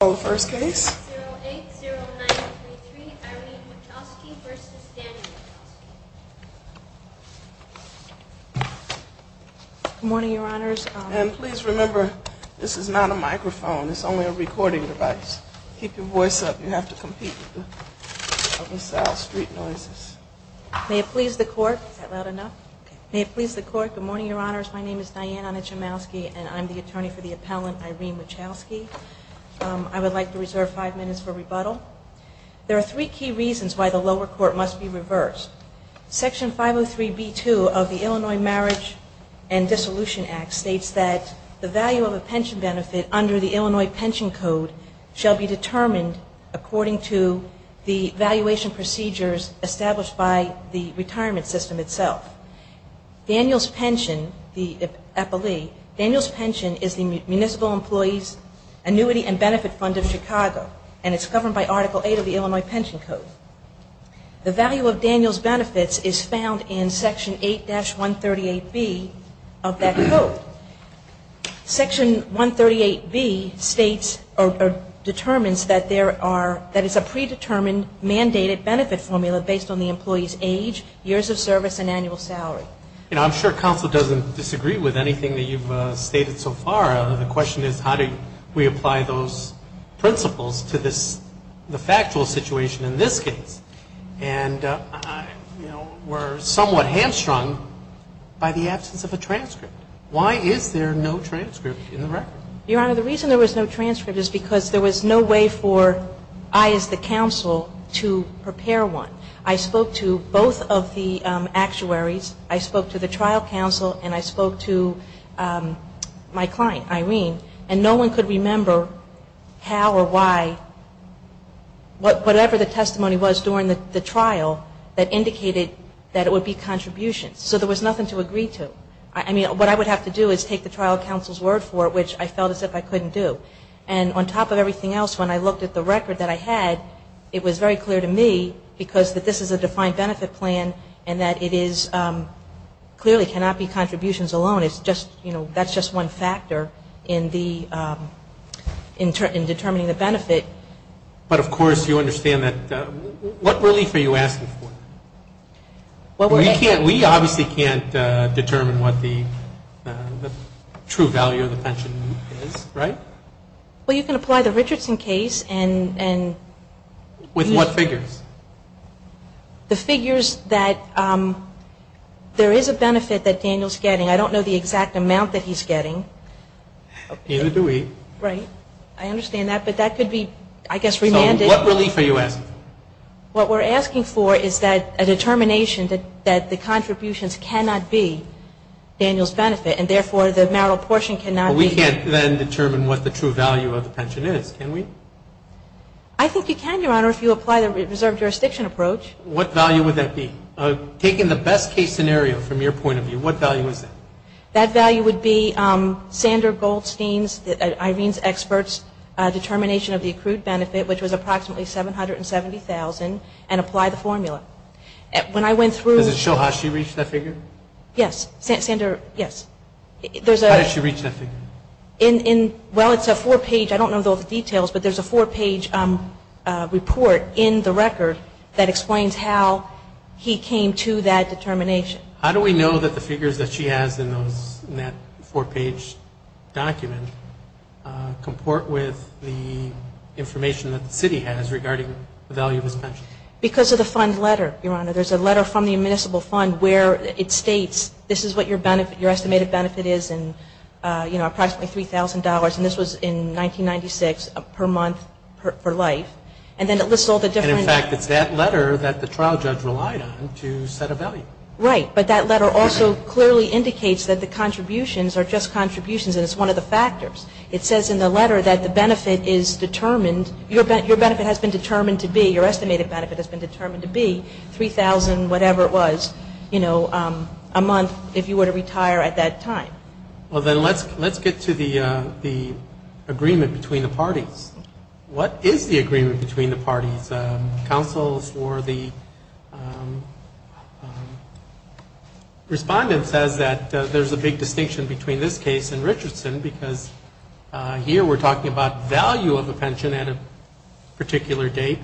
080923 Irene Wachowski v. Danny Wachowski Good morning, your honors. And please remember, this is not a microphone, it's only a recording device. Keep your voice up. You have to compete with the sound of street noises. May it please the court. Is that loud enough? Good morning, your honors. My name is Diane Ana Chomowski and I'm the attorney for the appellant Irene Wachowski. I would like to reserve five minutes for rebuttal. There are three key reasons why the lower court must be reversed. Section 503B2 of the Illinois Marriage and Dissolution Act states that the value of a pension benefit under the Illinois Pension Code shall be determined according to the valuation procedures established by the retirement system itself. Daniel's pension, the appellee, Daniel's pension is the municipal employee's annuity and benefit fund of Chicago and it's governed by Article 8 of the Illinois Pension Code. The value of Daniel's benefits is found in Section 8-138B of that code. Section 138B states or determines that there are, that it's a predetermined mandated benefit formula based on the employee's age, years of service, and annual salary. I'm sure counsel doesn't disagree with anything that you've stated so far. The question is how do we apply those principles to the factual situation in this case? And we're somewhat hamstrung by the absence of a transcript. Why is there no transcript in the record? Your Honor, the reason there was no transcript is because there was no way for I as the counsel to prepare one. I spoke to both of the actuaries, I spoke to the trial counsel, and I spoke to my client, Irene, and no one could remember how or why whatever the testimony was during the trial that indicated that it would be contributions. So there was nothing to agree to. I mean, what I would have to do is take the trial counsel's word for it, which I felt as if I couldn't do. And on top of everything else, when I looked at the record that I had, it was very clear to me because that this is a defined benefit plan and that it is clearly cannot be contributions alone. It's just, you know, that's just one factor in determining the benefit. But, of course, you understand that. What relief are you asking for? We obviously can't determine what the true value of the pension is, right? Well, you can apply the Richardson case and... With what figures? The figures that there is a benefit that Daniel's getting. I don't know the exact amount that he's getting. Neither do we. Right. I understand that. But that could be, I guess, remanded. So what relief are you asking for? What we're asking for is that a determination that the contributions cannot be Daniel's benefit and, therefore, the marital portion cannot be... We can't then determine what the true value of the pension is, can we? I think you can, Your Honor, if you apply the reserve jurisdiction approach. What value would that be? Taking the best case scenario from your point of view, what value is that? That value would be Sander Goldstein's, Irene's experts' determination of the accrued benefit, which was approximately $770,000, and apply the formula. When I went through... Does it show how she reached that figure? Yes. Sander, yes. How did she reach that figure? Well, it's a four-page, I don't know the details, but there's a four-page report in the record that explains how he came to that determination. How do we know that the figures that she has in that four-page document comport with the information that the city has regarding the value of his pension? Because of the fund letter, Your Honor. There's a letter from the municipal fund where it states, this is what your estimated benefit is in approximately $3,000, and this was in 1996 per month per life, and then it lists all the different... And, in fact, it's that letter that the trial judge relied on to set a value. Right, but that letter also clearly indicates that the contributions are just contributions and it's one of the factors. It says in the letter that the benefit is determined, your benefit has been determined to be, your estimated benefit has been determined to be $3,000, whatever it was, a month, if you were to retire at that time. Well, then let's get to the agreement between the parties. What is the agreement between the parties? Councils or the respondent says that there's a big distinction between this case and Richardson because here we're talking about value of the pension at a particular date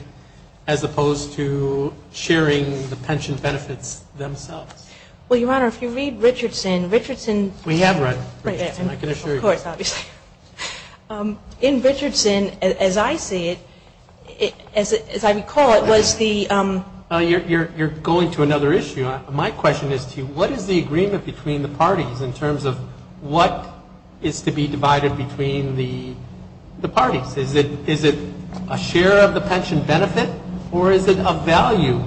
as opposed to sharing the pension benefits themselves. Well, Your Honor, if you read Richardson, Richardson... We have read Richardson, I can assure you. Of course, obviously. In Richardson, as I see it, as I recall, it was the... You're going to another issue. My question is to you, what is the agreement between the parties in terms of what is to be divided between the parties? Is it a share of the pension benefit or is it a value,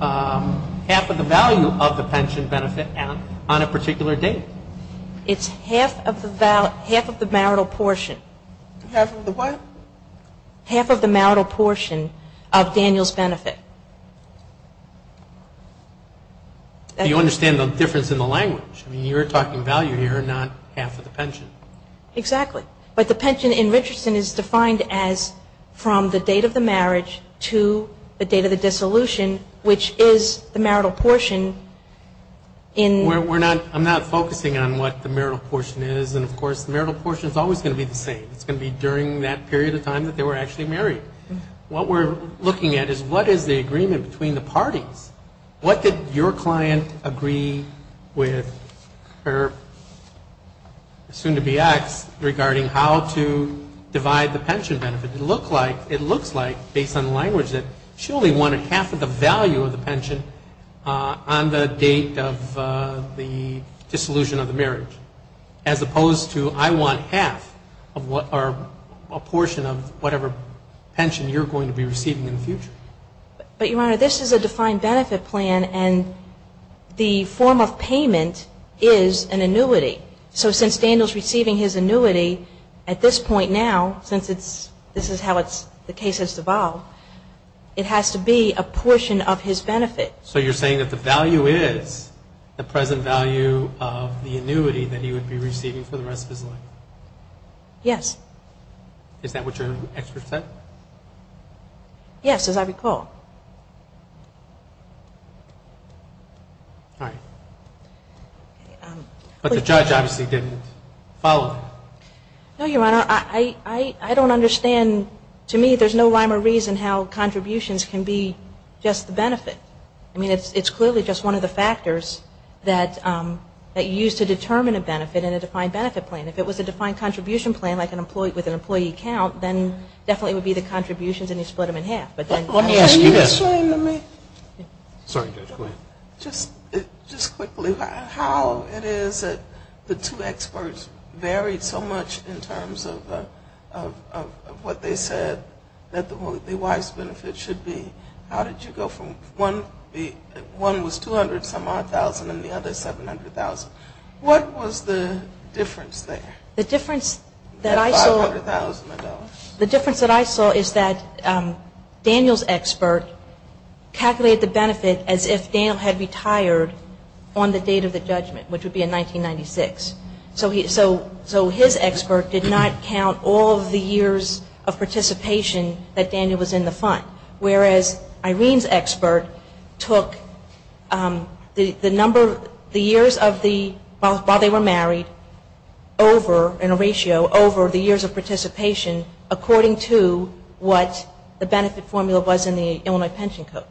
half of the value of the pension benefit on a particular date? It's half of the marital portion. Half of the what? Half of the marital portion of Daniel's benefit. Do you understand the difference in the language? I mean, you're talking value here, not half of the pension. Exactly. But the pension in Richardson is defined as from the date of the marriage to the date of the dissolution, which is the marital portion in... I'm not focusing on what the marital portion is. And, of course, the marital portion is always going to be the same. It's going to be during that period of time that they were actually married. What we're looking at is what is the agreement between the parties? What did your client agree with her soon-to-be ex regarding how to divide the pension benefit? It looks like, based on the language, that she only wanted half of the value of the pension on the date of the dissolution of the marriage, as opposed to I want half or a portion of whatever pension you're going to be receiving in the future. But, Your Honor, this is a defined benefit plan, and the form of payment is an annuity. So since Daniel's receiving his annuity at this point now, since this is how the case has evolved, it has to be a portion of his benefit. So you're saying that the value is the present value of the annuity that he would be receiving for the rest of his life? Yes. Is that what your expert said? Yes, as I recall. All right. But the judge obviously didn't follow that. No, Your Honor. I don't understand. To me, there's no rhyme or reason how contributions can be just the benefit. I mean, it's clearly just one of the factors that you use to determine a benefit in a defined benefit plan. If it was a defined contribution plan, like with an employee count, then definitely it would be the contributions, and you split them in half. Can you explain to me, just quickly, how it is that the two experts varied so much in terms of what they said that the wise benefit should be? How did you go from one was $200,000 and the other $700,000? What was the difference there? The difference that I saw is that Daniel's expert calculated the benefit as if Daniel had retired on the date of the judgment, which would be in 1996. So his expert did not count all of the years of participation that Daniel was in the fund, whereas Irene's expert took the years while they were married over, in a ratio over the years of participation according to what the benefit formula was in the Illinois Pension Code.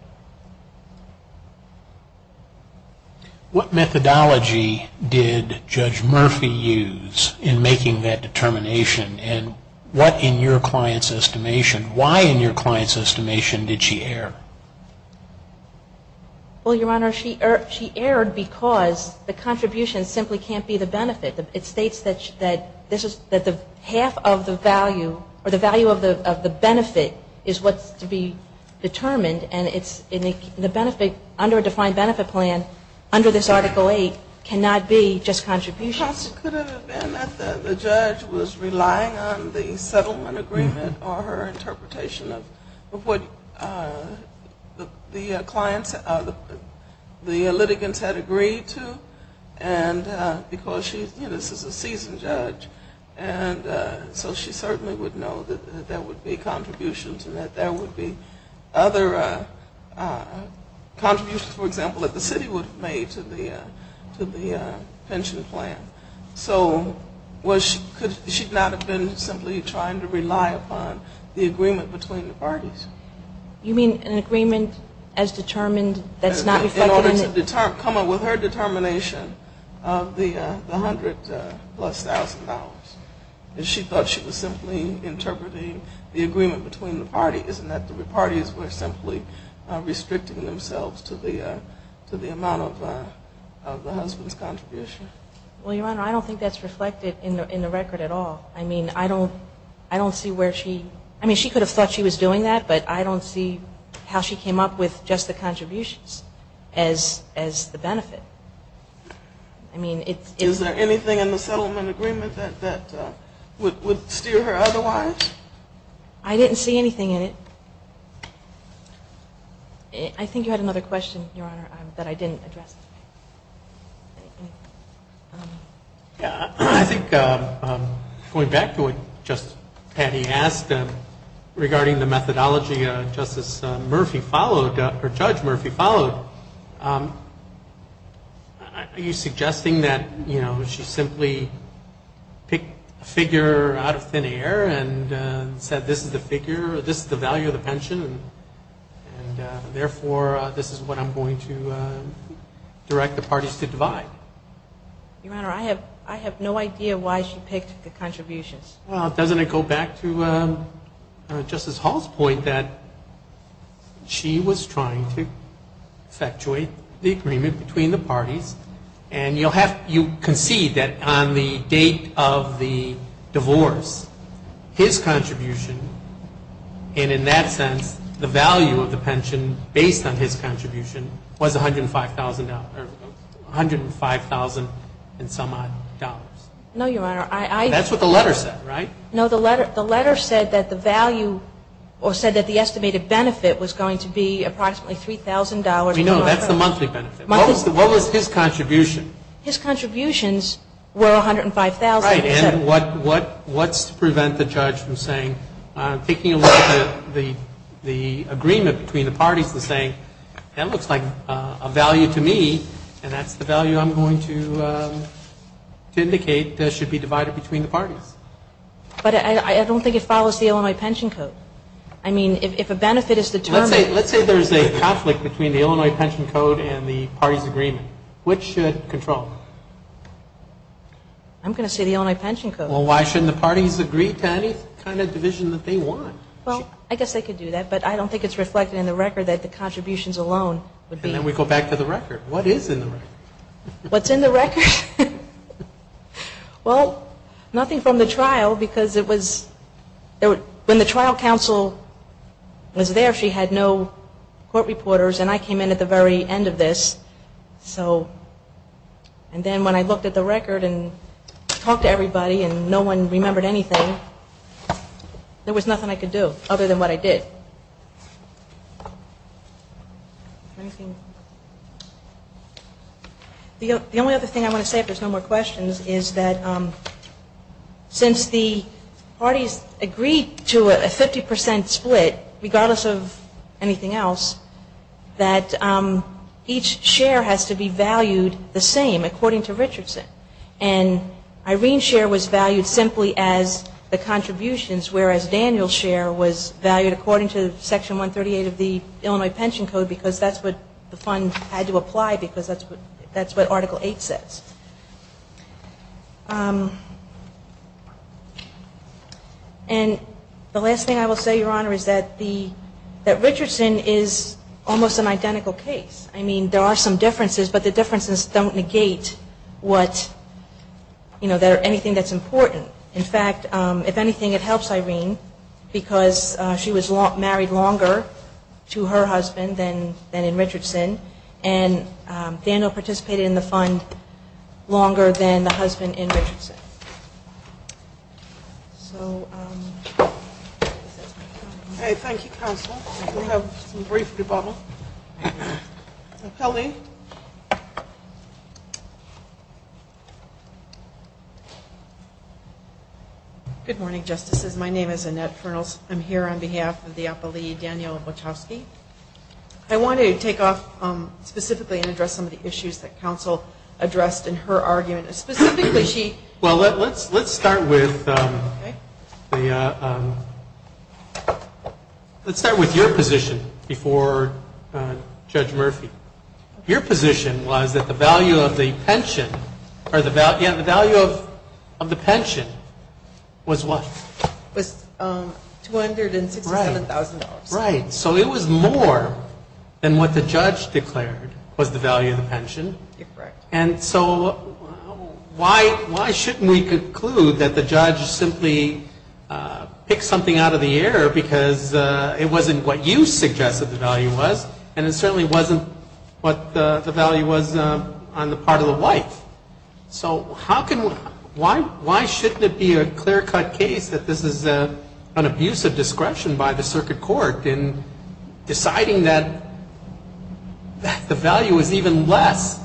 What methodology did Judge Murphy use in making that determination, and what in your client's estimation, why in your client's estimation, did she err? Well, Your Honor, she erred because the contribution simply can't be the benefit. It states that the half of the value, or the value of the benefit, is what's to be determined, and the benefit under a defined benefit plan under this Article 8 cannot be just contributions. Could it have been that the judge was relying on the settlement agreement or her interpretation of what the clients, the litigants had agreed to, and because she, you know, this is a seasoned judge, and so she certainly would know that there would be contributions and that there would be other contributions, for example, that the city would have made to the pension plan. So could she not have been simply trying to rely upon the agreement between the parties? You mean an agreement as determined that's not reflected in the In order to come up with her determination of the hundred plus thousand dollars. If she thought she was simply interpreting the agreement between the parties, isn't that the parties were simply restricting themselves to the amount of the husband's contribution? Well, Your Honor, I don't think that's reflected in the record at all. I mean, I don't see where she, I mean, she could have thought she was doing that, but I don't see how she came up with just the contributions as the benefit. I mean, it's Is there anything in the settlement agreement that would steer her otherwise? I didn't see anything in it. I think you had another question, Your Honor, that I didn't address. I think going back to what Judge Patty asked regarding the methodology Justice Murphy followed, or Judge Murphy followed, are you suggesting that, you know, she simply picked a figure out of thin air and said this is the figure, this is the value of the pension, and therefore, this is what I'm going to direct the parties to divide? Your Honor, I have no idea why she picked the contributions. Well, doesn't it go back to Justice Hall's point that she was trying to effectuate the agreement between the parties, and you concede that on the date of the divorce, his contribution, and in that sense, the value of the pension based on his contribution was $105,000, or $105,000 and some odd. No, Your Honor. That's what the letter said, right? No, the letter said that the value, or said that the estimated benefit was going to be approximately $3,000. No, that's the monthly benefit. What was his contribution? His contributions were $105,000. Right, and what's to prevent the judge from saying, taking away the agreement between the parties and saying, that looks like a value to me, and that's the value I'm going to indicate that should be divided between the parties. But I don't think it follows the Illinois Pension Code. I mean, if a benefit is determined. Let's say there's a conflict between the Illinois Pension Code and the parties' agreement. Which should control? I'm going to say the Illinois Pension Code. Well, why shouldn't the parties agree to any kind of division that they want? Well, I guess they could do that, but I don't think it's reflected in the record that the contributions alone would be. And then we go back to the record. What is in the record? What's in the record? Well, nothing from the trial, because it was, when the trial counsel was there, she had no court reporters, and I came in at the very end of this. So, and then when I looked at the record and talked to everybody and no one remembered anything, there was nothing I could do, other than what I did. The only other thing I want to say, if there's no more questions, is that since the parties agreed to a 50% split, regardless of anything else, that each share has to be valued the same, according to Richardson. And Irene's share was valued simply as the contributions, whereas Daniel's share was valued according to Section 138 of the Illinois Pension Code, because that's what the fund had to apply, because that's what Article 8 says. And the last thing I will say, Your Honor, is that Richardson is almost an identical case. I mean, there are some differences, but the differences don't negate anything that's important. In fact, if anything, it helps Irene, because she was married longer to her husband than in Richardson, and Daniel participated in the fund longer than the husband in Richardson. So, I guess that's my comment. Okay, thank you, Counsel. We'll have some brief debacle. Appellee. Good morning, Justices. My name is Annette Fernals. I'm here on behalf of the Appellee, Daniel Wachowski. I want to take off specifically and address some of the issues that Counsel addressed in her argument. Specifically, she... Well, let's start with your position before Judge Murphy. Your position was that the value of the pension was what? Was $267,000. Right. So, it was more than what the judge declared was the value of the pension. Correct. And so, why shouldn't we conclude that the judge simply picked something out of the air, because it wasn't what you suggested the value was, and it certainly wasn't what the value was on the part of the wife. So, how can... Why shouldn't it be a clear-cut case that this is an abuse of discretion by the Circuit Court in deciding that the value is even less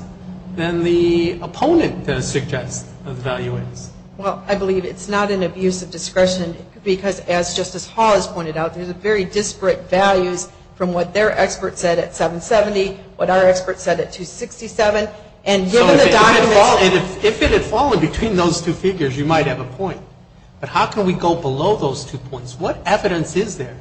than the opponent suggests the value is? Well, I believe it's not an abuse of discretion because, as Justice Hall has pointed out, there's very disparate values from what their expert said at $770,000, what our expert said at $267,000. And given the documents... So, if it had fallen between those two figures, you might have a point. But how can we go below those two points? What evidence is there?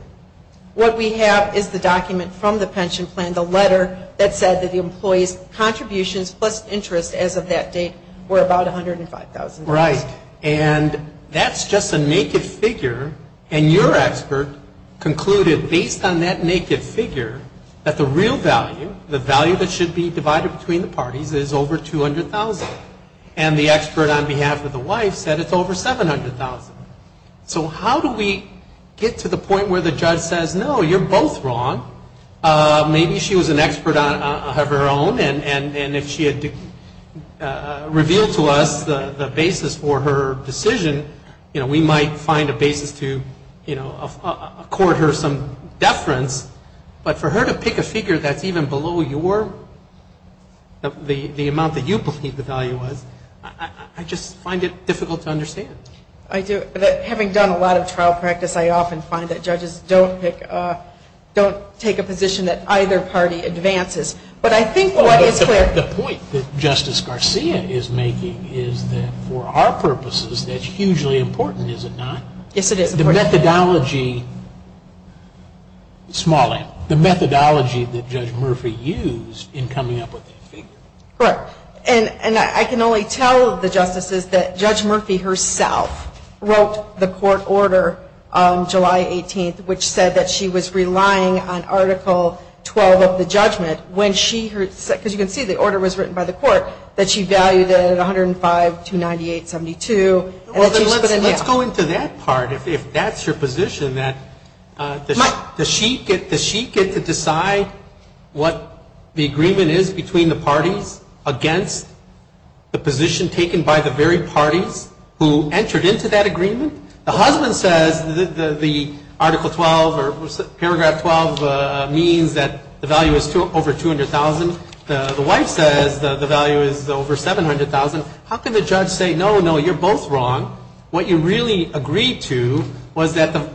What we have is the document from the pension plan, the letter that said that the employee's contributions plus interest as of that date were about $105,000. Right. And that's just a naked figure, and your expert concluded, based on that naked figure, that the real value, the value that should be divided between the parties, is over $200,000. And the expert on behalf of the wife said it's over $700,000. So, how do we get to the point where the judge says, no, you're both wrong. Maybe she was an expert of her own, and if she had revealed to us the basis for her decision, you know, we might find a basis to, you know, accord her some deference. But for her to pick a figure that's even below your, the amount that you believe the value was, I just find it difficult to understand. I do. Having done a lot of trial practice, I often find that judges don't pick, don't take a position that either party advances. But I think what is clear... for our purposes, that's hugely important, is it not? Yes, it is. The methodology, small m, the methodology that Judge Murphy used in coming up with that figure. Correct. And I can only tell the justices that Judge Murphy herself wrote the court order on July 18th, which said that she was relying on Article 12 of the judgment when she heard, because you can see the order was written by the court, that she valued it at $105,298.72. Let's go into that part. If that's your position, that does she get to decide what the agreement is between the parties against the position taken by the very parties who entered into that agreement? The husband says the Article 12 or Paragraph 12 means that the value is over $200,000. The wife says the value is over $700,000. How can the judge say, no, no, you're both wrong. What you really agreed to was that the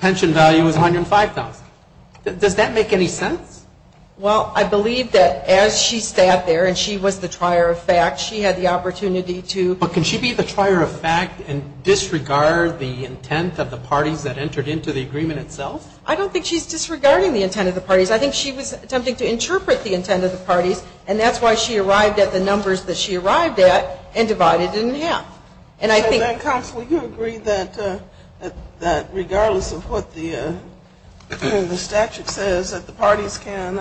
pension value was $105,000. Does that make any sense? Well, I believe that as she sat there and she was the trier of fact, she had the opportunity to... of the parties that entered into the agreement itself? I don't think she's disregarding the intent of the parties. I think she was attempting to interpret the intent of the parties, and that's why she arrived at the numbers that she arrived at and divided it in half. And I think... Counsel, you agree that regardless of what the statute says, that the parties can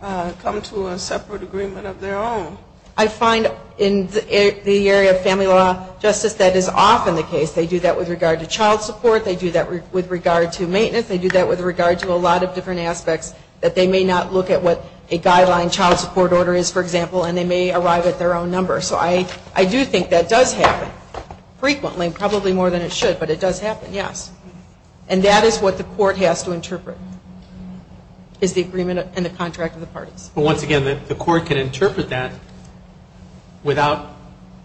come to a separate agreement of their own? I find in the area of family law, Justice, that is often the case. They do that with regard to child support. They do that with regard to maintenance. They do that with regard to a lot of different aspects, that they may not look at what a guideline child support order is, for example, and they may arrive at their own number. So I do think that does happen frequently, probably more than it should, but it does happen, yes. And that is what the court has to interpret, is the agreement and the contract of the parties. But once again, the court can interpret that without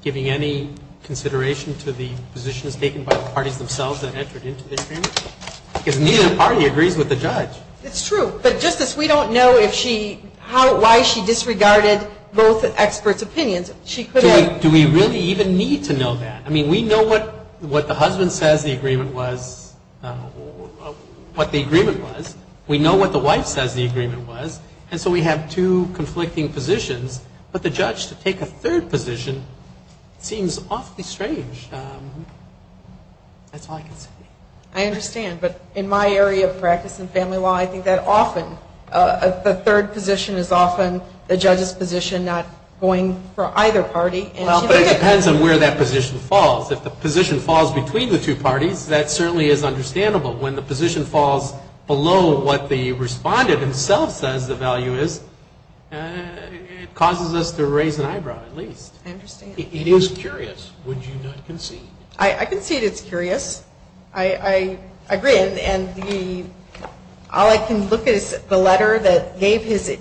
giving any consideration to the positions taken by the parties themselves that entered into the agreement? Because neither party agrees with the judge. It's true. But, Justice, we don't know why she disregarded both experts' opinions. Do we really even need to know that? I mean, we know what the husband says the agreement was, what the agreement was. We know what the wife says the agreement was. And so we have two conflicting positions. But the judge, to take a third position, seems awfully strange. That's all I can say. I understand. But in my area of practice in family law, I think that often the third position is often the judge's position, not going for either party. Well, but it depends on where that position falls. If the position falls between the two parties, that certainly is understandable. But when the position falls below what the respondent himself says the value is, it causes us to raise an eyebrow at least. I understand. It is curious. Would you not concede? I concede it's curious. I agree. And all I can look at is the letter that gave his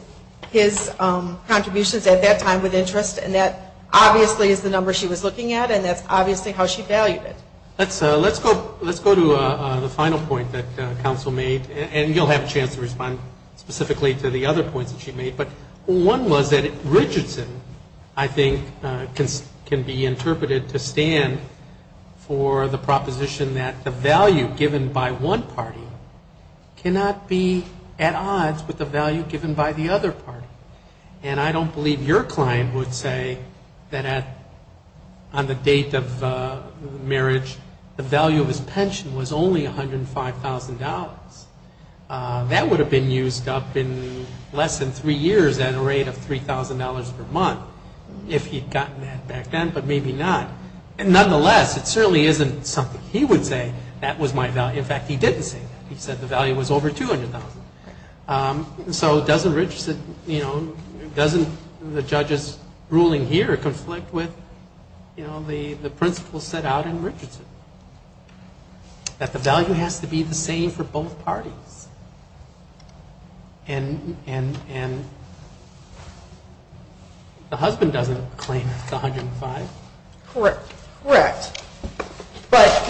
contributions at that time with interest, and that obviously is the number she was looking at, and that's obviously how she valued it. Let's go to the final point that counsel made, and you'll have a chance to respond specifically to the other points that she made. But one was that Richardson, I think, can be interpreted to stand for the proposition that the value given by one party cannot be at odds with the value given by the other party. And I don't believe your client would say that on the date of marriage, the value of his pension was only $105,000. That would have been used up in less than three years at a rate of $3,000 per month if he had gotten that back then, but maybe not. Nonetheless, it certainly isn't something he would say, that was my value. In fact, he didn't say that. He said the value was over $200,000. So doesn't the judge's ruling here conflict with the principle set out in Richardson, that the value has to be the same for both parties? And the husband doesn't claim it's $105,000. Correct. But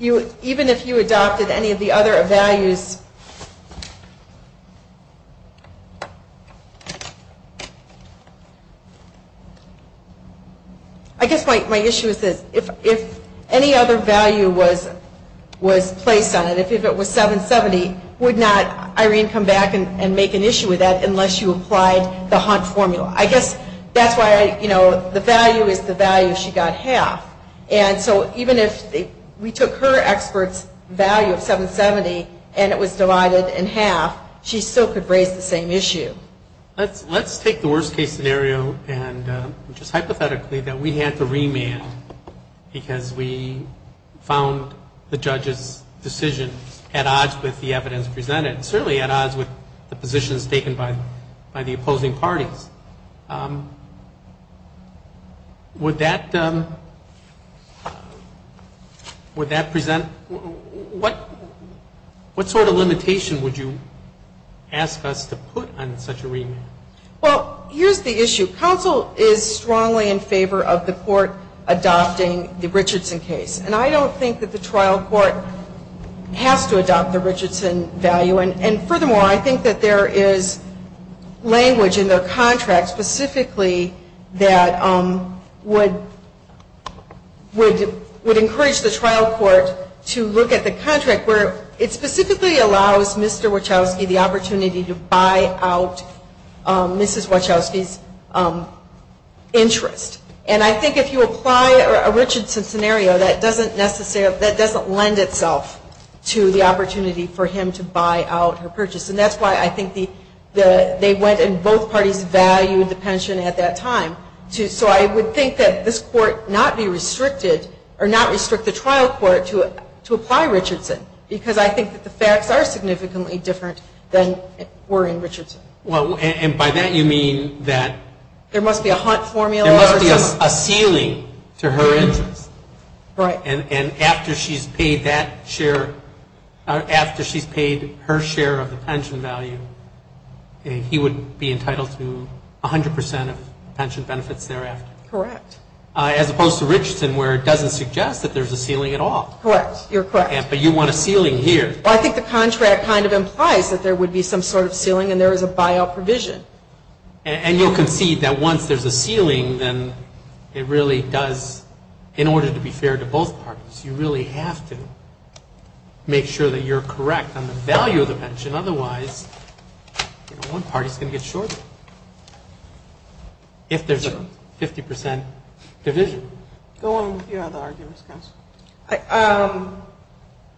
even if you adopted any of the other values, I guess my issue is this, if any other value was placed on it, if it was $770,000, would not Irene come back and make an issue with that unless you applied the Hunt formula? I guess that's why the value is the value she got half. And so even if we took her expert's value of $770,000 and it was divided in half, she still could raise the same issue. Let's take the worst-case scenario and just hypothetically that we had to remand because we found the judge's decision at odds with the evidence presented, certainly at odds with the positions taken by the opposing parties. Would that present what sort of limitation would you ask us to put on such a remand? Well, here's the issue. Counsel is strongly in favor of the court adopting the Richardson case. And I don't think that the trial court has to adopt the Richardson value. And furthermore, I think that there is language in their contract specifically that would encourage the trial court to look at the contract where it specifically allows Mr. Wachowski the opportunity to buy out Mrs. Wachowski's interest. And I think if you apply a Richardson scenario, that doesn't lend itself to the opportunity for him to buy out her purchase. And that's why I think they went and both parties valued the pension at that time. So I would think that this court not be restricted or not restrict the trial court to apply Richardson because I think that the facts are significantly different than were in Richardson. And by that you mean that there must be a ceiling to her interest. Right. And after she's paid that share, after she's paid her share of the pension value, he would be entitled to 100 percent of pension benefits thereafter. Correct. As opposed to Richardson where it doesn't suggest that there's a ceiling at all. Correct. You're correct. But you want a ceiling here. Well, I think the contract kind of implies that there would be some sort of ceiling and there is a buyout provision. And you'll concede that once there's a ceiling, then it really does, in order to be fair to both parties, you really have to make sure that you're correct on the value of the pension. Otherwise, one party is going to get shorted if there's a 50 percent division. Go on with your other arguments, counsel.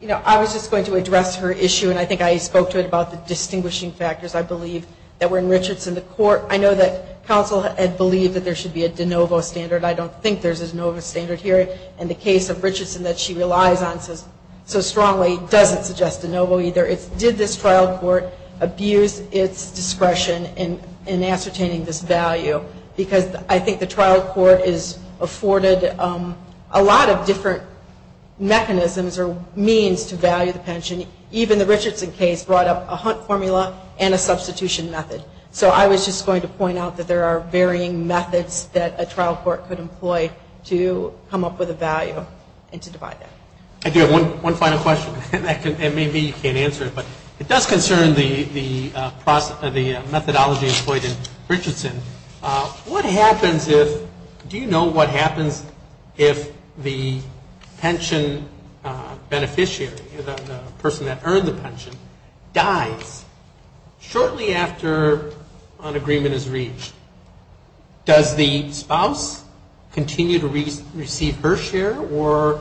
You know, I was just going to address her issue, and I think I spoke to it about the distinguishing factors, I believe, that were in Richardson, the court. I know that counsel had believed that there should be a de novo standard. I don't think there's a de novo standard here. And the case of Richardson that she relies on so strongly doesn't suggest de novo either. Did this trial court abuse its discretion in ascertaining this value? Because I think the trial court is afforded a lot of different mechanisms or means to value the pension. Even the Richardson case brought up a hunt formula and a substitution method. So I was just going to point out that there are varying methods that a trial court could employ to come up with a value and to divide that. I do have one final question, and maybe you can't answer it, but it does concern the methodology employed in Richardson. What happens if, do you know what happens if the pension beneficiary, the person that earned the pension, dies shortly after an agreement is reached? Does the spouse continue to receive her share, or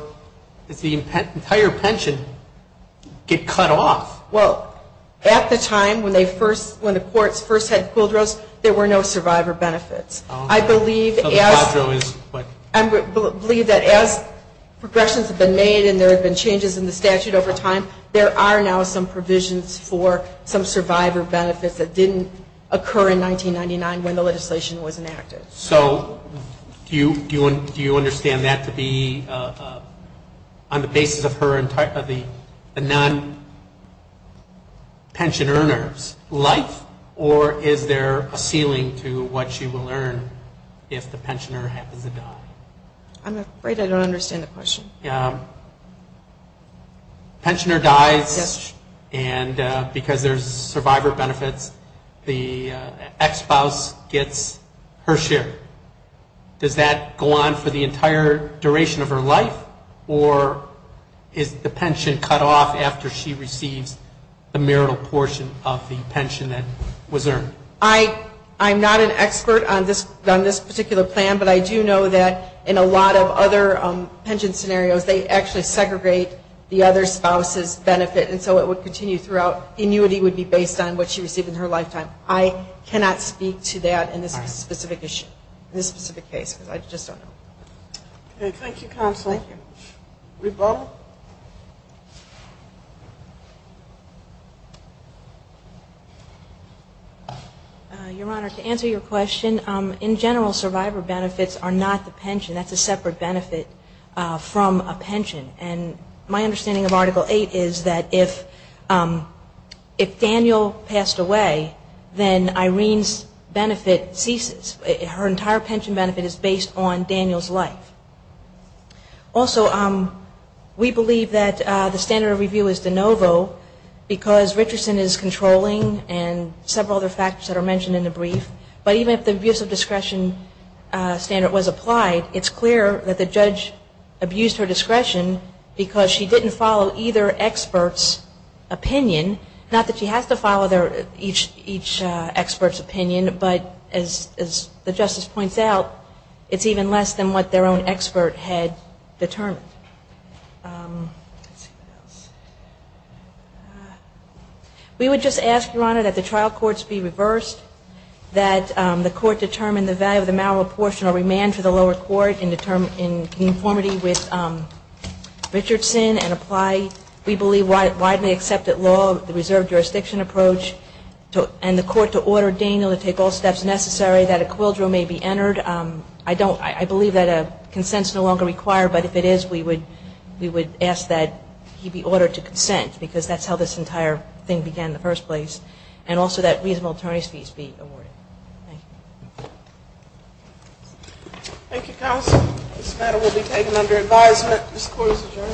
does the entire pension get cut off? Well, at the time when the courts first had quildros, there were no survivor benefits. I believe that as progressions have been made and there have been changes in the statute over time, there are now some provisions for some survivor benefits that didn't occur in 1999 when the legislation was enacted. So do you understand that to be on the basis of the non-pension earner's life, or is there a ceiling to what she will earn if the pensioner happens to die? I'm afraid I don't understand the question. The pensioner dies, and because there's survivor benefits, the ex-spouse gets her share. Does that go on for the entire duration of her life, or is the pension cut off after she receives the marital portion of the pension that was earned? I'm not an expert on this particular plan, but I do know that in a lot of other pension scenarios, they actually segregate the other spouse's benefit, and so it would continue throughout. Annuity would be based on what she received in her lifetime. I cannot speak to that in this specific issue, in this specific case, because I just don't know. Okay, thank you, Counselor. Thank you. RuPaul? Your Honor, to answer your question, in general, survivor benefits are not the pension. That's a separate benefit from a pension, and my understanding of Article 8 is that if Daniel passed away, then Irene's benefit ceases. Her entire pension benefit is based on Daniel's life. Also, we believe that the standard of review is de novo because Richardson is controlling and several other factors that are mentioned in the brief. But even if the abuse of discretion standard was applied, it's clear that the judge abused her discretion because she didn't follow either expert's opinion. But as the justice points out, it's even less than what their own expert had determined. We would just ask, Your Honor, that the trial courts be reversed, that the court determine the value of the malreportional remand for the lower court in conformity with Richardson and apply, we believe, widely accepted law, the reserve jurisdiction approach, and the court to order Daniel to take all steps necessary that a quadro may be entered. I believe that a consent is no longer required, but if it is, we would ask that he be ordered to consent because that's how this entire thing began in the first place, and also that reasonable attorney's fees be awarded. Thank you. Thank you, Counselor. This matter will be taken under advisement. This Court is adjourned. Thank you.